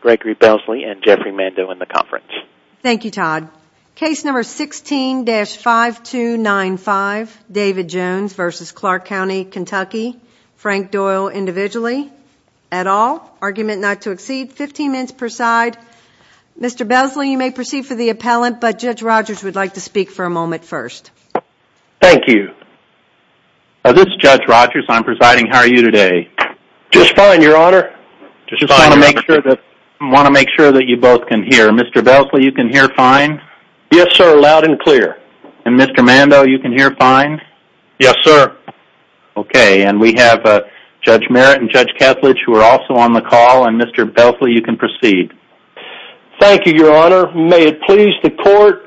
Gregory Belsley and Jeffrey Mando in the conference. Thank you Todd. Case number 16-5295 David Jones v. Clark County Kentucky. Frank Doyle individually at all. Argument not to exceed 15 minutes per side. Mr. Belsley you may proceed for the appellant but Judge Rogers would like to speak for a moment first. Thank you. This is Judge Rogers. I'm presiding. How are you today? Just fine your honor. Just want to make sure that you both can hear. Mr. Belsley you can hear fine? Yes sir loud and clear. And Mr. Mando you can hear fine? Yes sir. Okay and we have Judge Merritt and Judge Kethledge who are also on the call and Mr. Belsley you can proceed. Thank you your honor. May it please the court.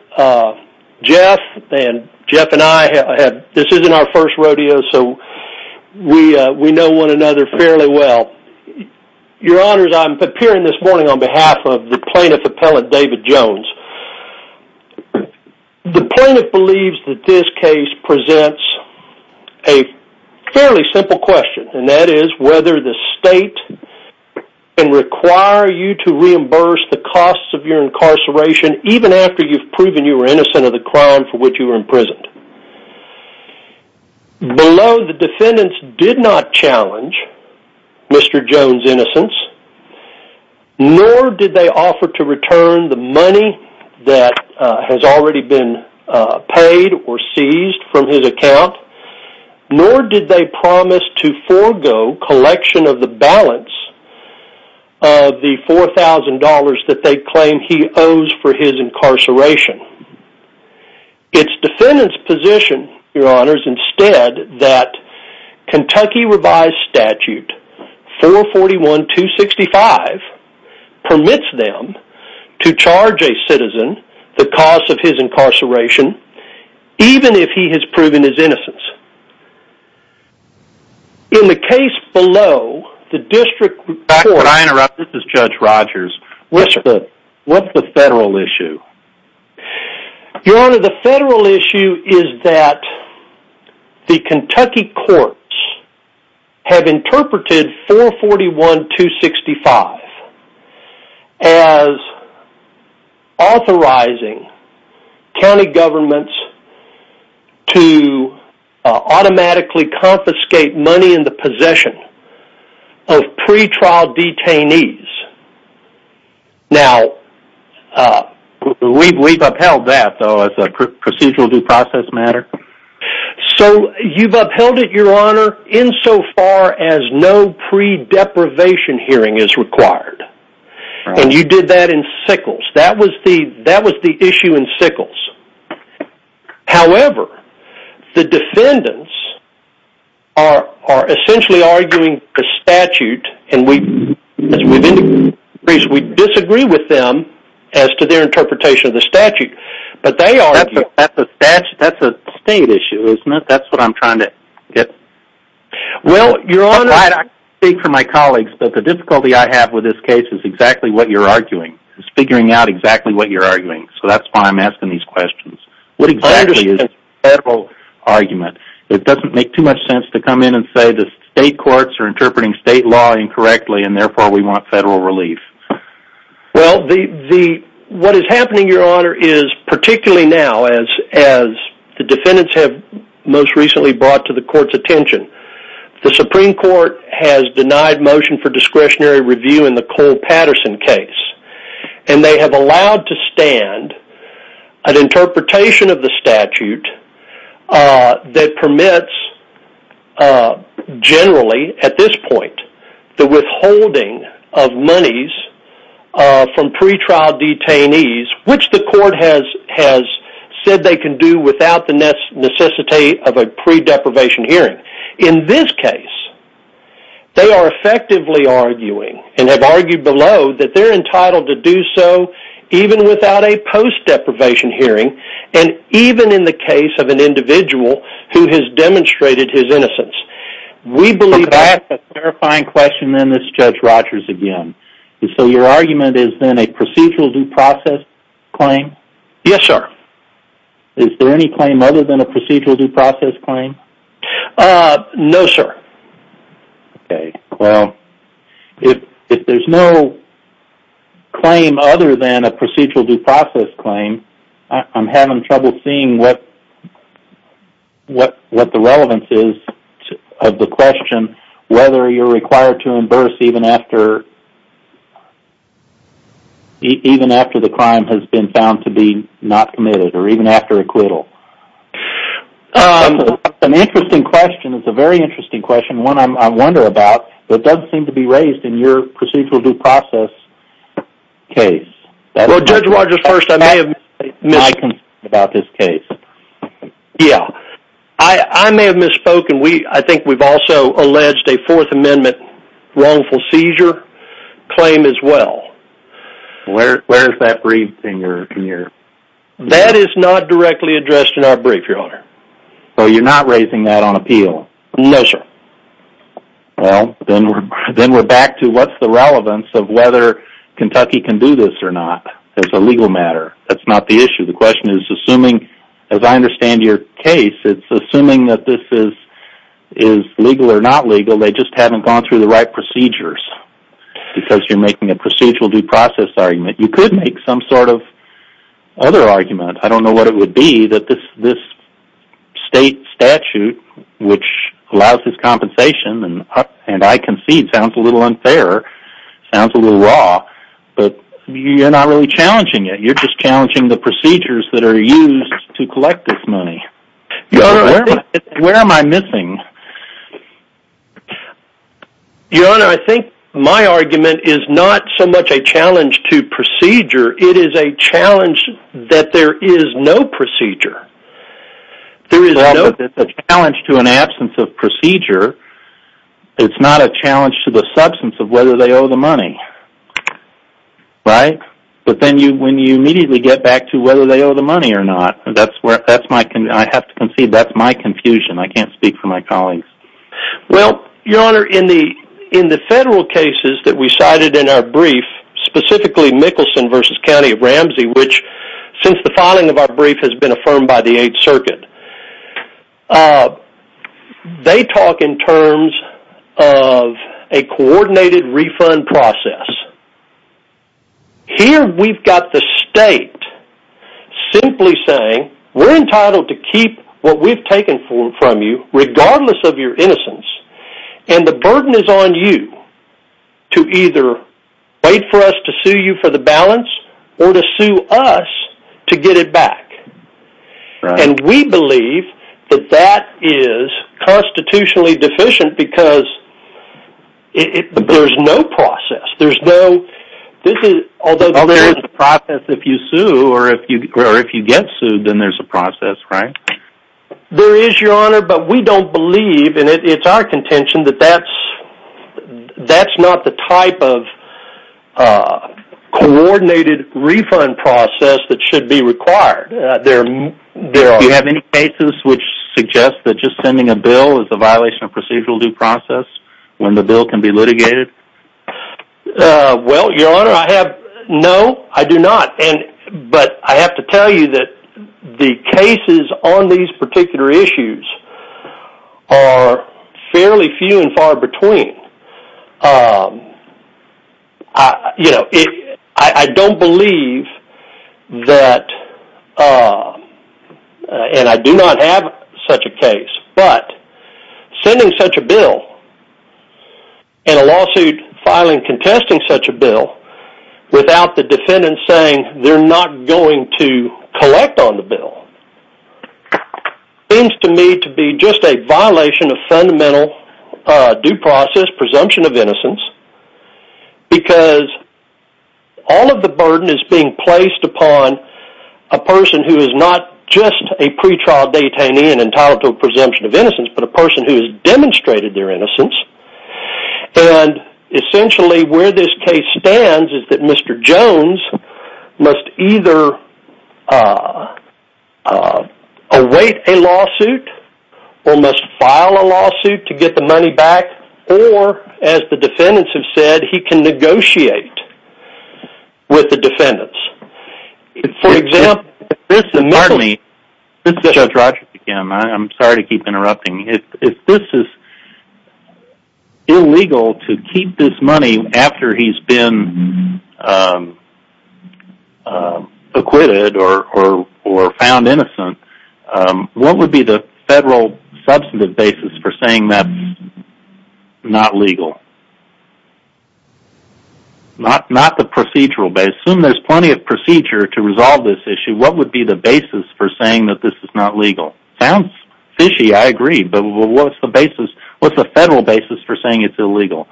Jeff and Jeff and I have had this isn't our first rodeo so we we know one another fairly well. Your honors I'm appearing this morning on behalf of the plaintiff appellant David Jones. The plaintiff believes that this case presents a fairly simple question and that is whether the state can require you to reimburse the costs of your incarceration even after you've proven you were innocent of the crime for which you were imprisoned. Below the defendants did not challenge Mr. Jones innocence nor did they offer to return the money that has already been paid or seized from his account nor did they promise to forego collection of the balance of the $4,000 that they claim he owes for his Kentucky revised statute 441 265 permits them to charge a citizen the cost of his incarceration even if he has proven his innocence. In the case below the district court. Back when I interrupted this is Judge Rogers. Yes sir. What's the federal issue? Your honor the federal issue is that the Kentucky courts have interpreted 441 265 as authorizing county governments to automatically confiscate money in the We've upheld that though as a procedural due process matter. So you've upheld it your honor in so far as no pre-deprivation hearing is required and you did that in Sickles that was the that was the issue in Sickles. However the defendants are essentially arguing the statute and we disagree with them as to their interpretation of the statute. That's a state issue isn't it. That's what I'm trying to get. Well your honor I can't speak for my colleagues but the difficulty I have with this case is exactly what you're arguing. Figuring out exactly what you're arguing. So that's why I'm asking these questions. What exactly is the federal argument? It doesn't make too much sense to come in and say the state courts are What is happening your honor is particularly now as the defendants have most recently brought to the court's attention. The Supreme Court has denied motion for discretionary review in the Cole Patterson case and they have allowed to stand an interpretation of the statute that permits generally at this point the withholding of monies from pre-trial detainees which the court has said they can do without the necessity of a pre-deprivation hearing. In this case they are effectively arguing and have argued below that they're entitled to do so even without a post-deprivation hearing and even in the case of an individual who has demonstrated his innocence. We believe that's a terrifying question and this is Judge Rogers again. So your argument is then a procedural due process claim. Yes sir. Is there any claim other than a procedural due process claim? Uh, no sir. Okay. Well, if there's no claim other than a procedural due process claim I'm having trouble seeing what the relevance is of the question whether you're required to imburse even after the crime has been found to be not committed or even after acquittal. That's an interesting question. It's a very interesting question. One I wonder about that doesn't seem to be raised in your procedural due process case. Well, Judge Rogers, first, I may have misspoken about this case. Yeah, I may have misspoken. I think we've also alleged a Fourth Amendment wrongful seizure claim as well. Where is that briefed in your opinion? That is not directly addressed in our brief, Your Honor. So you're not raising that on appeal? No sir. Well, then we're back to what's the relevance of whether Kentucky can do this or not as a legal matter. That's not the issue. The question is assuming, as I understand your case, it's assuming that this is legal or not legal, they just haven't gone through the right procedures because you're making a procedural due process argument. You could make some sort of other argument. I don't know what it would be that this state statute which allows this compensation and I concede sounds a little unfair, sounds a little raw, but you're not really challenging it. You're just challenging the procedures that are used to collect this money. Your Honor, where am I missing? Your Honor, I think my argument is not so much a challenge to procedure, it is a challenge that there is no procedure. It's a challenge to an absence of procedure. It's not a challenge to the substance of whether they owe the money. Right? But then when you immediately get back to whether they owe the money or not, I have to concede that's my confusion. I can't speak for my colleagues. Well, Your Honor, in the federal cases that we cited in our brief, specifically Mickelson v. County of Ramsey, which since the filing of our brief has been affirmed by the 8th Circuit, they talk in terms of a coordinated refund process. Here we've got the state simply saying we're entitled to keep what we've taken from you regardless of your innocence and the burden is on you to either wait for us to sue you for the balance or to sue us to get it back. And we believe that that is constitutionally deficient because there's no process. Although there is a process if you sue or if you get sued, then there's a process. Right? There is, Your Honor, but we don't believe, and it's our contention, that that's not the type of coordinated refund process that should be required. Do you have any cases which suggest that just sending a bill is a violation of procedural due process when the bill can be litigated? Well, Your Honor, no, I do not. But I have to tell you that the cases on these particular issues are fairly few and far between. I don't believe that, and I do not have such a case, but sending such a bill and a lawsuit filing contesting such a bill without the defendant saying they're not going to collect on the bill seems to me to be just a violation of fundamental due process presumption of innocence because all of the burden is being placed upon a person who is not just a pretrial detainee and entitled to a presumption of innocence, but a person who has demonstrated their innocence. And essentially where this case stands is that Mr. Jones must either await a lawsuit or must file a lawsuit to get the money back or, as the defendants have said, he can negotiate with the defendants. For example, if this is illegal to keep this money after he's been acquitted or found innocent, what would be the federal substantive basis for saying that's not legal? Not the procedural basis. I assume there's plenty of procedure to resolve this issue. What would be the basis for saying that this is not legal? Sounds fishy, I agree, but what's the federal basis for saying it's illegal?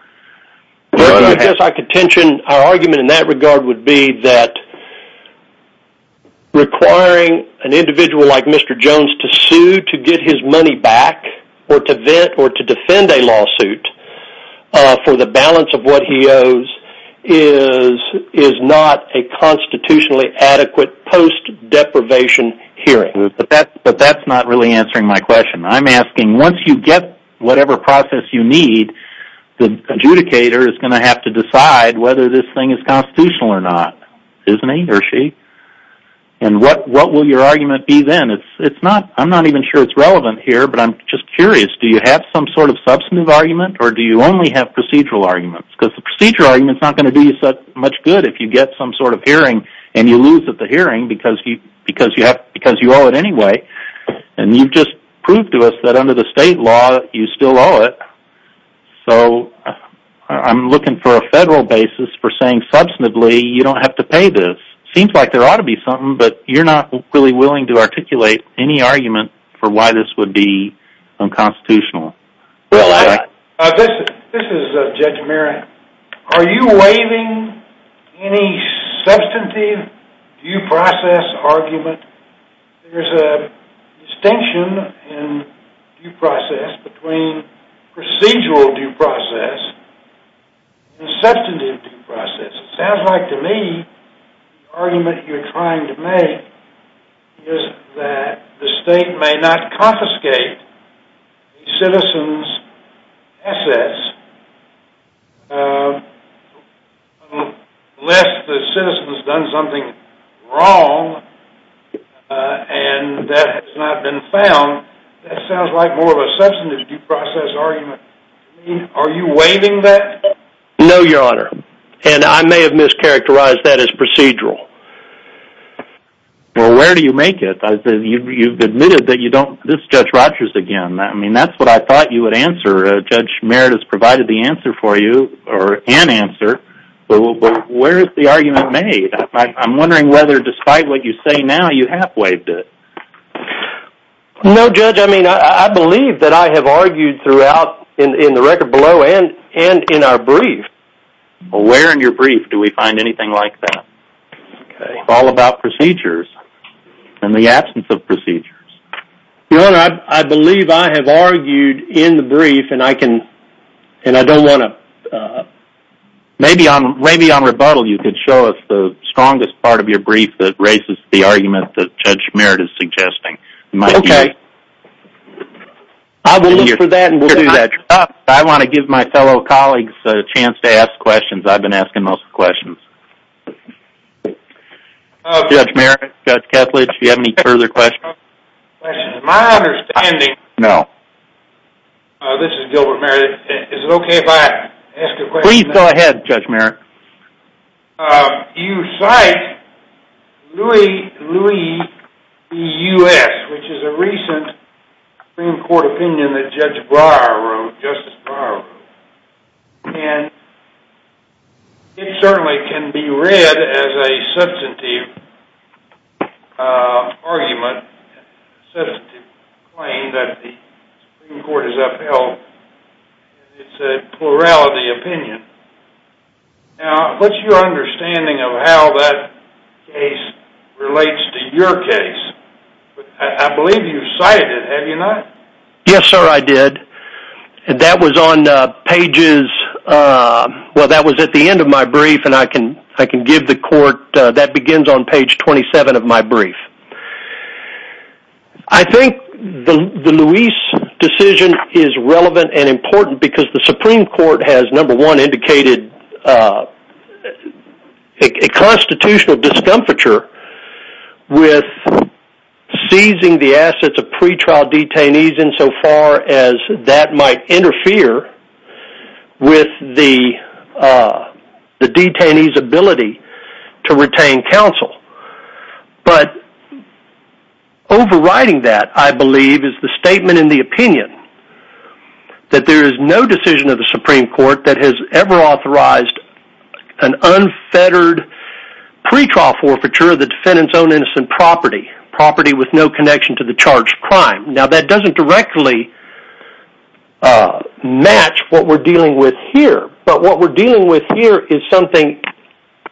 Our argument in that regard would be that requiring an individual like Mr. Jones to sue to get his money back or to defend a lawsuit for the balance of what he owes is not a constitutionally adequate post-deprivation hearing. But that's not really answering my question. I'm asking, once you get whatever process you need, the adjudicator is going to have to decide whether this thing is constitutional or not, isn't he or she? And what will your argument be then? I'm not even sure it's relevant here, but I'm just curious. Do you have some sort of substantive argument or do you only have procedural arguments? Because the procedural argument is not going to do you much good if you get some sort of hearing and you lose at the hearing because you owe it anyway. And you've just proved to us that under the state law you still owe it. So I'm looking for a federal basis for saying substantively you don't have to pay this. Seems like there ought to be something, but you're not really willing to articulate any argument for why this would be unconstitutional. This is Judge Merrick. Are you waiving any substantive due process argument? There's a distinction in due process between procedural due process and substantive due process. It sounds like to me the argument you're trying to make is that the state may not confiscate a citizen's assets unless the citizen has done something wrong and that has not been found. That sounds like more of a substantive due process argument. Are you waiving that? No, Your Honor. And I may have mischaracterized that as procedural. Well, where do you make it? You've admitted that you don't... This is Judge Rogers again. I mean, that's what I thought you would answer. Judge Merritt has provided the answer for you, or an answer, but where is the argument made? I'm wondering whether despite what you say now you have waived it. No, Judge. I mean, I believe that I have argued throughout in the record below and in our brief. Well, where in your brief do we find anything like that? It's all about procedures and the absence of procedures. Your Honor, I believe I have argued in the brief and I don't want to... Maybe on rebuttal you could show us the strongest part of your brief that raises the argument that Judge Merritt is suggesting. Okay. I will look for that and we'll do that. I want to give my fellow colleagues a chance to ask questions. I've been asking most of the questions. Judge Merritt, Judge Ketledge, do you have any further questions? My understanding... No. This is Gilbert Merritt. Is it okay if I ask a question? Please go ahead, Judge Merritt. You cite Louis B. U.S., which is a recent Supreme Court opinion that Judge Breyer wrote, Justice Breyer wrote. And it certainly can be read as a substantive argument, a substantive claim that the Supreme Court has upheld. It's a plurality opinion. Now, what's your understanding of how that case relates to your case? I believe you've cited it, have you not? Yes, sir, I did. That was on pages... Well, that was at the end of my brief and I can give the court... That begins on page 27 of my brief. I think the Louis decision is relevant and important because the Supreme Court has, number one, indicated a constitutional discomfiture with seizing the assets of pretrial detainees insofar as that might interfere with the detainee's ability to retain counsel. But overriding that, I believe, is the statement in the opinion that there is no decision of the Supreme Court that has ever authorized an unfettered pretrial forfeiture of the defendant's own innocent property, property with no connection to the charge of crime. Now, that doesn't directly match what we're dealing with here. But what we're dealing with here is something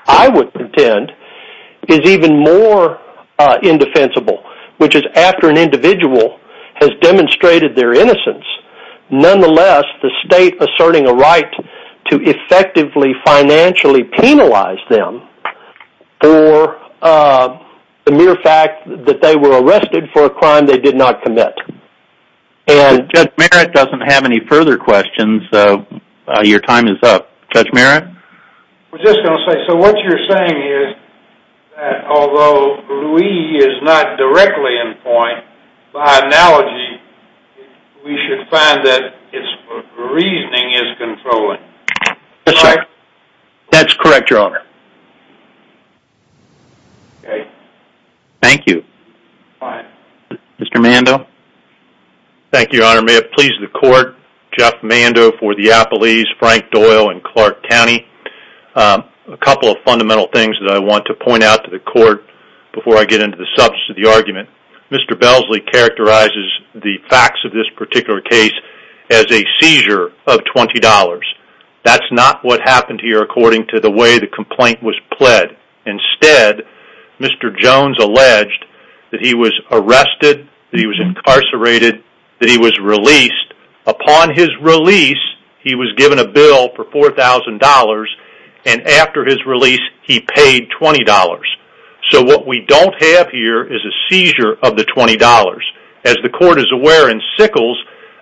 I would contend is even more indefensible, which is after an individual has demonstrated their innocence, nonetheless the state asserting a right to effectively financially penalize them for the mere fact that they were arrested for a crime they did not commit. Judge Merritt doesn't have any further questions, so your time is up. Judge Merritt? I was just going to say, so what you're saying is that although Louis is not directly in point, by analogy we should find that its reasoning is controlling. That's correct, Your Honor. Okay. Thank you. Mr. Mando? Thank you, Your Honor. May it please the Court, Jeff Mando for the Appellees, Frank Doyle in Clark County. A couple of fundamental things that I want to point out to the Court before I get into the substance of the argument. Mr. Belsley characterizes the facts of this particular case as a seizure of $20. That's not what happened here according to the way the complaint was pled. Instead, Mr. Jones alleged that he was arrested, that he was incarcerated, that he was released. Upon his release, he was given a bill for $4,000, and after his release he paid $20. So what we don't have here is a seizure of the $20. As the Court is aware in Sickles,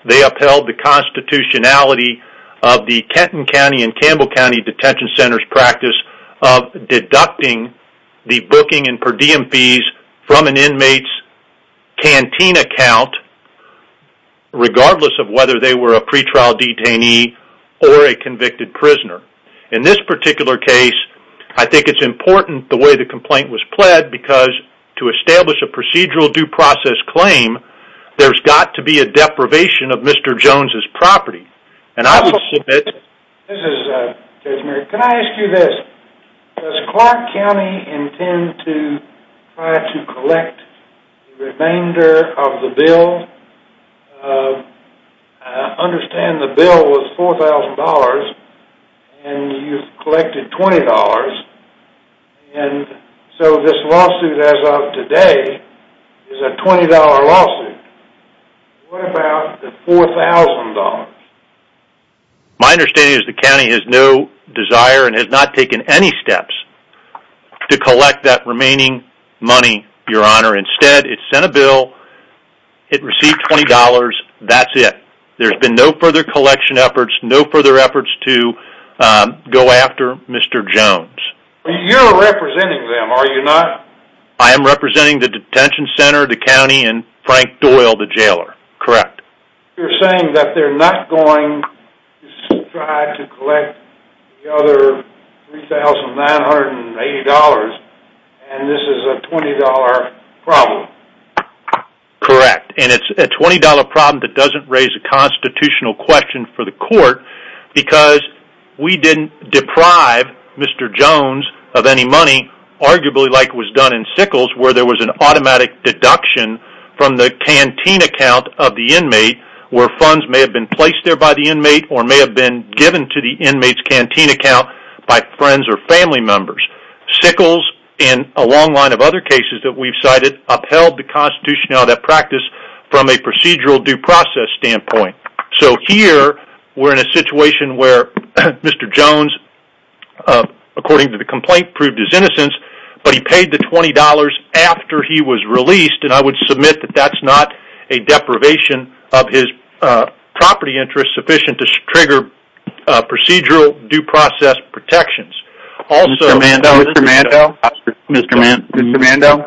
they upheld the constitutionality of the Kenton County and Campbell County Detention Centers practice of deducting the booking and per diem fees from an inmate's canteen account regardless of whether they were a pretrial detainee or a convicted prisoner. In this particular case, I think it's important the way the complaint was pled because to establish a procedural due process claim, there's got to be a deprivation of Mr. Jones' property. This is Judge Merrick. Can I ask you this? Does Clark County intend to try to collect the remainder of the bill? I understand the bill was $4,000 and you've collected $20. And so this lawsuit as of today is a $20 lawsuit. What about the $4,000? My understanding is the county has no desire and has not taken any steps to collect that remaining money, Your Honor. Instead, it sent a bill, it received $20, that's it. There's been no further collection efforts, no further efforts to go after Mr. Jones. You're representing them, are you not? I am representing the detention center, the county, and Frank Doyle, the jailer. Correct. You're saying that they're not going to try to collect the other $3,980 and this is a $20 problem? Correct. And it's a $20 problem that doesn't raise a constitutional question for the court because we didn't deprive Mr. Jones of any money arguably like was done in Sickles where there was an automatic deduction from the canteen account of the inmate where funds may have been placed there by the inmate or may have been given to the inmate's canteen account by friends or family members. Sickles and a long line of other cases that we've cited upheld the constitutionality of that practice from a procedural due process standpoint. So here we're in a situation where Mr. Jones, according to the complaint, proved his innocence, but he paid the $20 after he was released and I would submit that that's not a deprivation of his property interest sufficient to trigger procedural due process protections. Mr. Mando,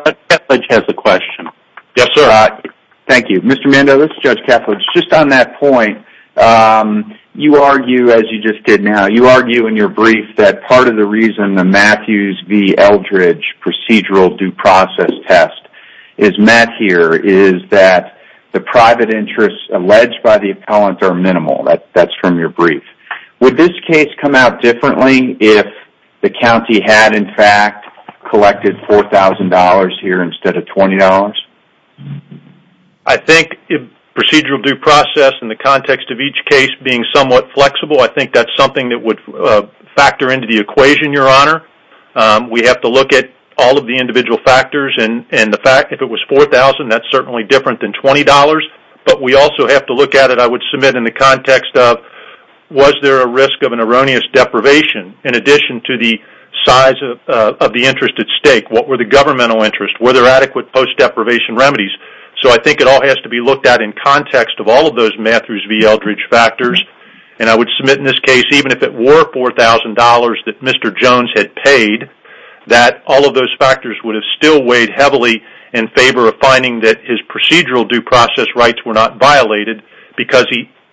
Judge Kethledge has a question. Yes, sir. Thank you. Mr. Mando, this is Judge Kethledge. Just on that point, you argue, as you just did now, you argue in your brief that part of the reason the Matthews v. Eldridge procedural due process test is met here is that the private interests alleged by the appellant are minimal. That's from your brief. Would this case come out differently if the county had, in fact, collected $4,000 here instead of $20? I think if procedural due process in the context of each case being somewhat flexible, I think that's something that would factor into the equation, Your Honor. We have to look at all of the individual factors and the fact if it was $4,000, that's certainly different than $20, but we also have to look at it, I would submit, in the context of was there a risk of an erroneous deprivation in addition to the size of the interest at stake? What were the governmental interests? Were there adequate post-deprivation remedies? So I think it all has to be looked at in context of all of those Matthews v. Eldridge factors, and I would submit in this case, even if it were $4,000 that Mr. Jones had paid, that all of those factors would have still weighed heavily in favor of finding that his procedural due process rights were not violated because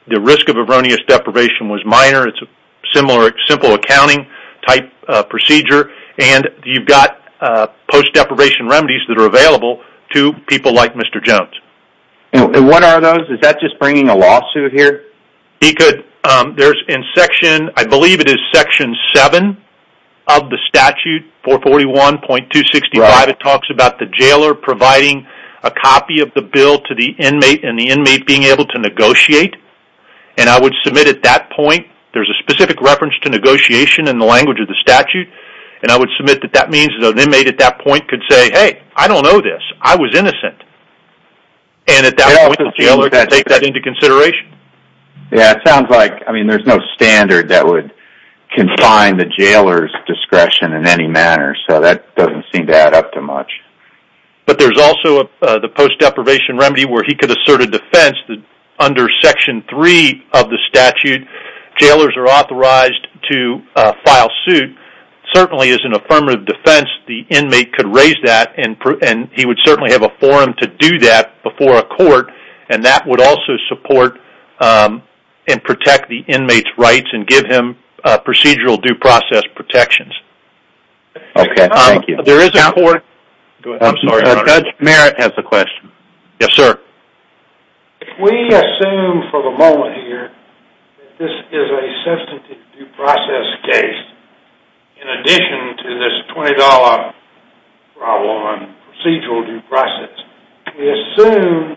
the risk of erroneous deprivation was minor. It's a simple accounting-type procedure, and you've got post-deprivation remedies that are available to people like Mr. Jones. And what are those? Is that just bringing a lawsuit here? I believe it is Section 7 of the statute, 441.265. It talks about the jailer providing a copy of the bill to the inmate and the inmate being able to negotiate, and I would submit at that point, there's a specific reference to negotiation in the language of the statute, and I would submit that that means that an inmate at that point could say, hey, I don't know this, I was innocent, and at that point the jailer could take that into consideration. Yeah, it sounds like, I mean, there's no standard that would confine the jailer's discretion in any manner, so that doesn't seem to add up to much. But there's also the post-deprivation remedy where he could assert a defense under Section 3 of the statute. Jailers are authorized to file suit. Certainly, as an affirmative defense, the inmate could raise that, and he would certainly have a forum to do that before a court, and that would also support and protect the inmate's rights and give him procedural due process protections. Okay, thank you. There is a court. Go ahead. Judge Merritt has a question. Yes, sir. If we assume for the moment here that this is a substantive due process case, in addition to this $20 problem on procedural due process, we assume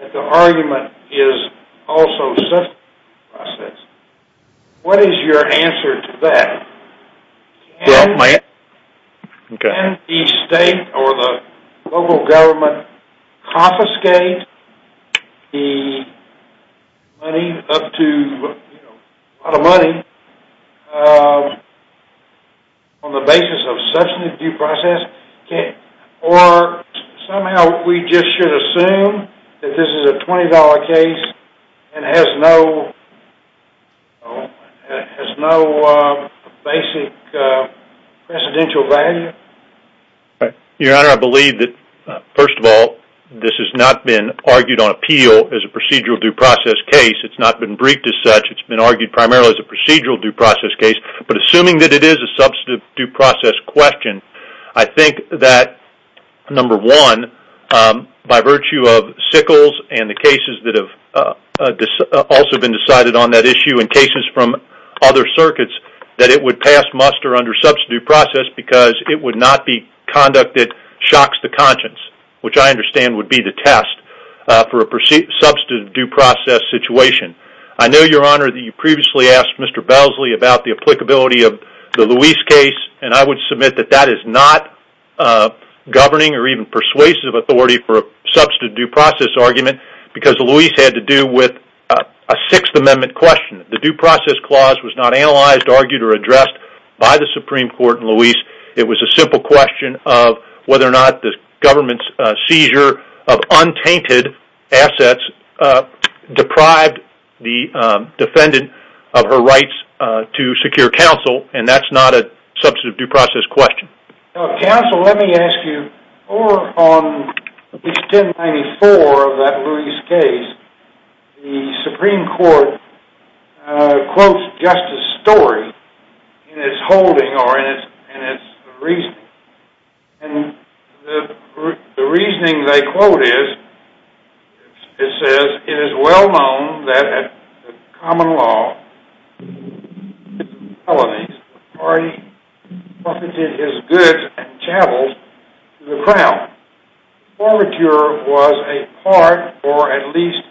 that the argument is also substantive due process, what is your answer to that? Do you want my answer? Can the state or the local government confiscate the money, up to a lot of money, on the basis of substantive due process? Or somehow we just should assume that this is a $20 case and has no basic presidential value? Your Honor, I believe that, first of all, this has not been argued on appeal as a procedural due process case. It's not been briefed as such. It's been argued primarily as a procedural due process case. But assuming that it is a substantive due process question, I think that, number one, by virtue of Sickles and the cases that have also been decided on that issue and cases from other circuits, that it would pass muster under substantive due process because it would not be conducted shocks to conscience, which I understand would be the test for a substantive due process situation. I know, Your Honor, that you previously asked Mr. Belsley about the applicability of the Luis case, and I would submit that that is not governing or even persuasive authority for a substantive due process argument because Luis had to do with a Sixth Amendment question. The due process clause was not analyzed, argued, or addressed by the Supreme Court in Luis. It was a simple question of whether or not the government's seizure of untainted assets deprived the defendant of her rights to secure counsel, and that's not a substantive due process question. Counsel, let me ask you, over on page 1094 of that Luis case, the Supreme Court quotes Justice Story in its holding or in its reasoning, and the reasoning they quote is, it says, It is well known that in common law, in the case of felonies, the party profited his goods and chattels to the crown. The formature was a part or at least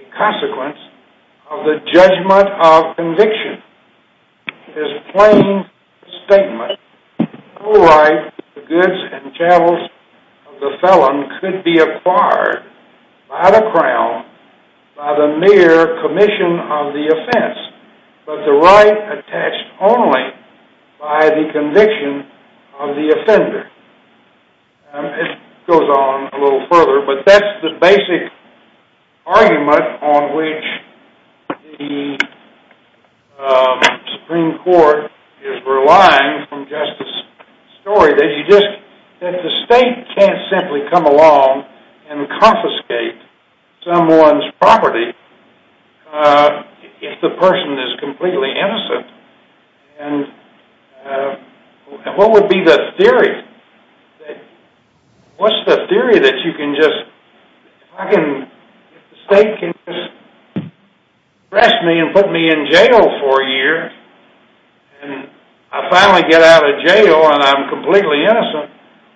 a consequence of the judgment of conviction. It is a plain statement. The sole right to the goods and chattels of the felon could be acquired by the crown by the mere commission of the offense, but the right attached only by the conviction of the offender. It goes on a little further, but that's the basic argument on which the Supreme Court is relying from Justice Story, that the state can't simply come along and confiscate someone's property if the person is completely innocent, and what would be the theory? What's the theory that you can just, if the state can just arrest me and put me in jail for a year, and I finally get out of jail and I'm completely innocent,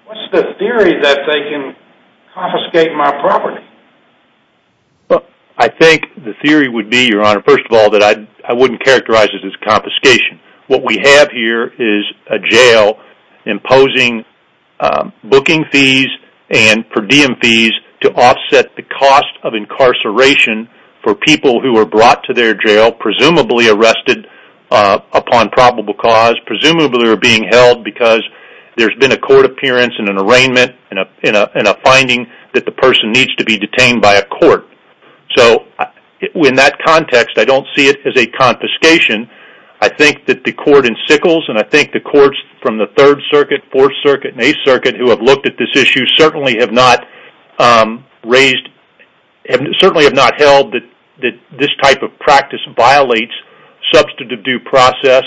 what's the theory that they can confiscate my property? Well, I think the theory would be, Your Honor, first of all, that I wouldn't characterize it as confiscation. What we have here is a jail imposing booking fees and per diem fees to offset the cost of incarceration for people who are brought to their jail, presumably arrested upon probable cause, presumably are being held because there's been a court appearance and an arraignment and a finding that the person needs to be detained by a court. So in that context, I don't see it as a confiscation. I think that the court in Sickles and I think the courts from the 3rd Circuit, 4th Circuit, and 8th Circuit who have looked at this issue certainly have not held that this type of practice violates substantive due process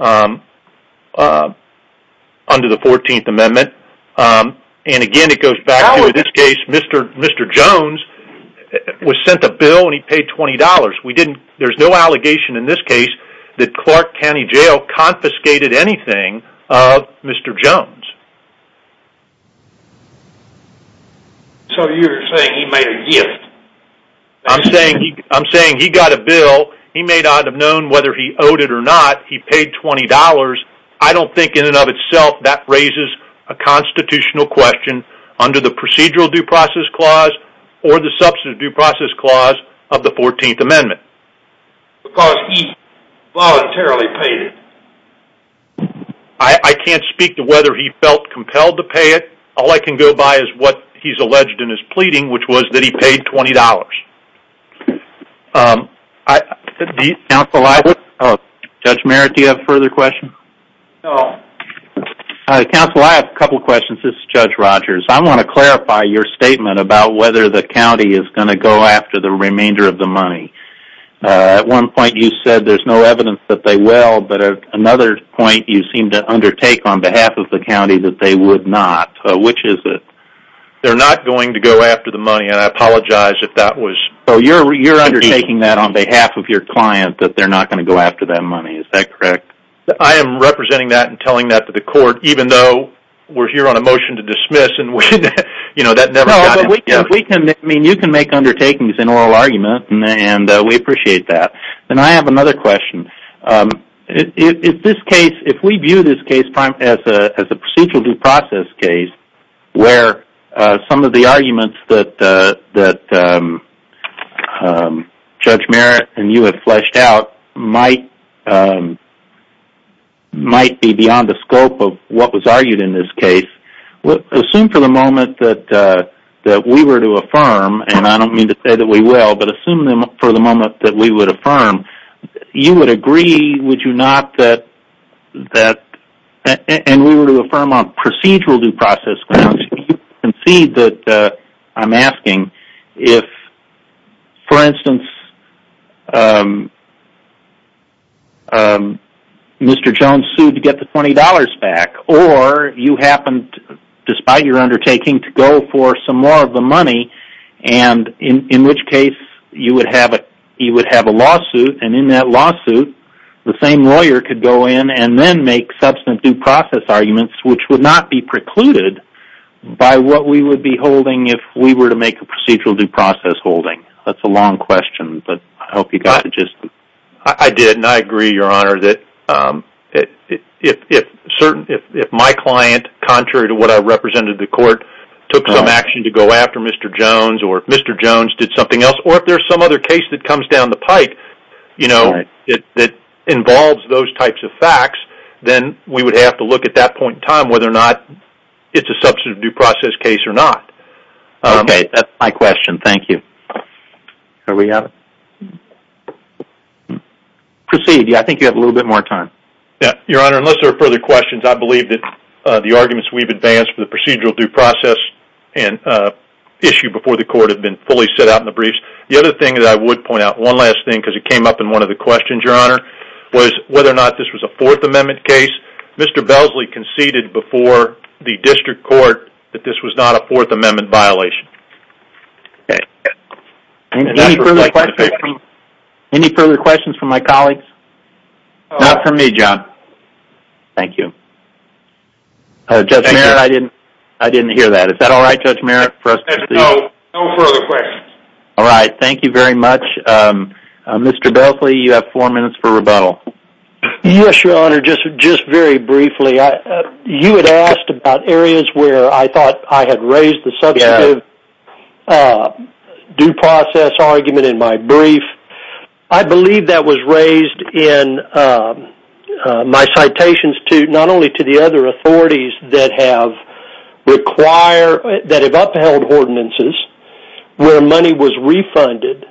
under the 14th Amendment. And again, it goes back to this case. Mr. Jones was sent a bill and he paid $20. There's no allegation in this case that Clark County Jail confiscated anything of Mr. Jones. So you're saying he made a gift? I'm saying he got a bill. He may not have known whether he owed it or not. He paid $20. I don't think in and of itself that raises a constitutional question under the Procedural Due Process Clause or the Substantive Due Process Clause of the 14th Amendment. Because he voluntarily paid it. I can't speak to whether he felt compelled to pay it. All I can go by is what he's alleged in his pleading, which was that he paid $20. Counsel, Judge Merritt, do you have further questions? No. Counsel, I have a couple questions. This is Judge Rogers. I want to clarify your statement about whether the county is going to go after the remainder of the money. At one point you said there's no evidence that they will, but at another point you seem to undertake on behalf of the county that they would not. Which is it? They're not going to go after the money, and I apologize if that was... So you're undertaking that on behalf of your client that they're not going to go after that money. Is that correct? I am representing that and telling that to the court, even though we're here on a motion to dismiss. You know, that never happens. You can make undertakings in oral argument, and we appreciate that. And I have another question. If we view this case as a procedural due process case, where some of the arguments that Judge Merritt and you have fleshed out might be beyond the scope of what was argued in this case, assume for the moment that we were to affirm, and I don't mean to say that we will, but assume for the moment that we would affirm, you would agree, would you not, that... And we were to affirm on procedural due process grounds, you concede that I'm asking if, for instance, Mr. Jones sued to get the $20 back, or you happened, despite your undertaking, to go for some more of the money, and in which case you would have a lawsuit, and in that lawsuit the same lawyer could go in and then make substantive due process arguments, which would not be precluded by what we would be holding if we were to make a procedural due process holding. That's a long question, but I hope you got it. I did, and I agree, Your Honor, that if my client, contrary to what I represented to court, took some action to go after Mr. Jones, or if Mr. Jones did something else, or if there's some other case that comes down the pike, you know, that involves those types of facts, then we would have to look at that point in time whether or not it's a substantive due process case or not. Okay, that's my question, thank you. Are we out of... Proceed, yeah, I think you have a little bit more time. Yeah, Your Honor, unless there are further questions, I believe that the arguments we've advanced for the procedural due process issue before the court have been fully set out in the briefs. The other thing that I would point out, one last thing, because it came up in one of the questions, Your Honor, was whether or not this was a Fourth Amendment case. Mr. Belsley conceded before the district court that this was not a Fourth Amendment violation. Any further questions from my colleagues? Not from me, John. Thank you. Judge Merritt, I didn't hear that. Is that all right, Judge Merritt, for us to see? No, no further questions. All right, thank you very much. Mr. Belsley, you have four minutes for rebuttal. Yes, Your Honor, just very briefly. You had asked about areas where I thought I had raised the substantive due process argument in my brief. I believe that was raised in my citations not only to the other authorities that have upheld ordinances where money was refunded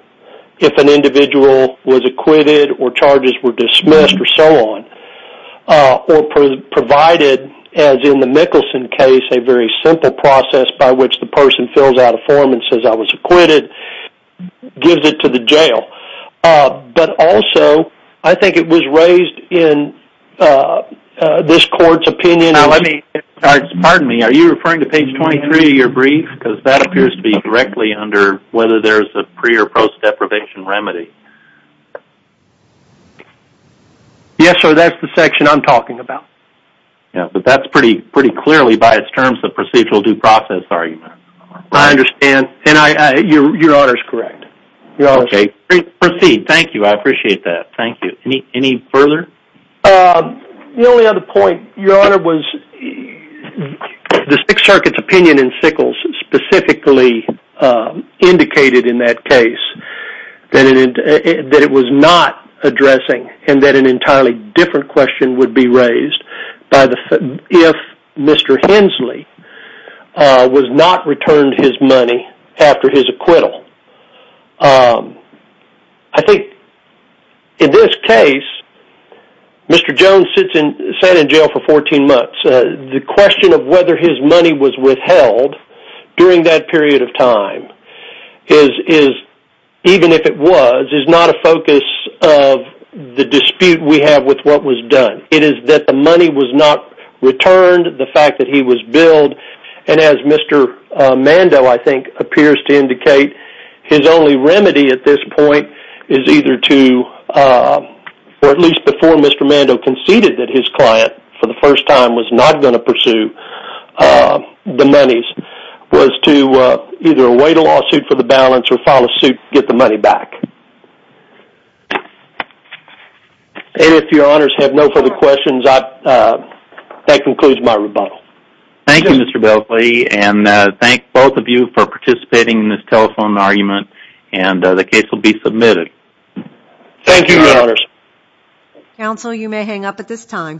if an individual was acquitted or charges were dismissed or so on, or provided, as in the Mickelson case, a very simple process by which the person fills out a form and says, I was acquitted, gives it to the jail. But also, I think it was raised in this court's opinion. Now let me, pardon me, are you referring to page 23 of your brief? Because that appears to be directly under whether there's a pre- or post-deprivation remedy. Yes, sir, that's the section I'm talking about. Yeah, but that's pretty clearly by its terms a procedural due process argument. I understand, and Your Honor's correct. Okay, proceed. Thank you, I appreciate that. Thank you. Any further? The only other point, Your Honor, was the Sixth Circuit's opinion in Sickles specifically indicated in that case that it was not addressing and that an entirely different question would be raised if Mr. Hensley was not returned his money after his acquittal. I think in this case, Mr. Jones sat in jail for 14 months. The question of whether his money was withheld during that period of time, even if it was, is not a focus of the dispute we have with what was done. It is that the money was not returned, the fact that he was billed, and as Mr. Mando, I think, appears to indicate, his only remedy at this point is either to, or at least before Mr. Mando conceded that his client for the first time was not going to pursue the monies, was to either await a lawsuit for the balance or file a suit to get the money back. And if Your Honors have no further questions, that concludes my rebuttal. Thank you, Mr. Belkley, and thank both of you for participating in this telephone argument, and the case will be submitted. Thank you, Your Honors. Counsel, you may hang up at this time.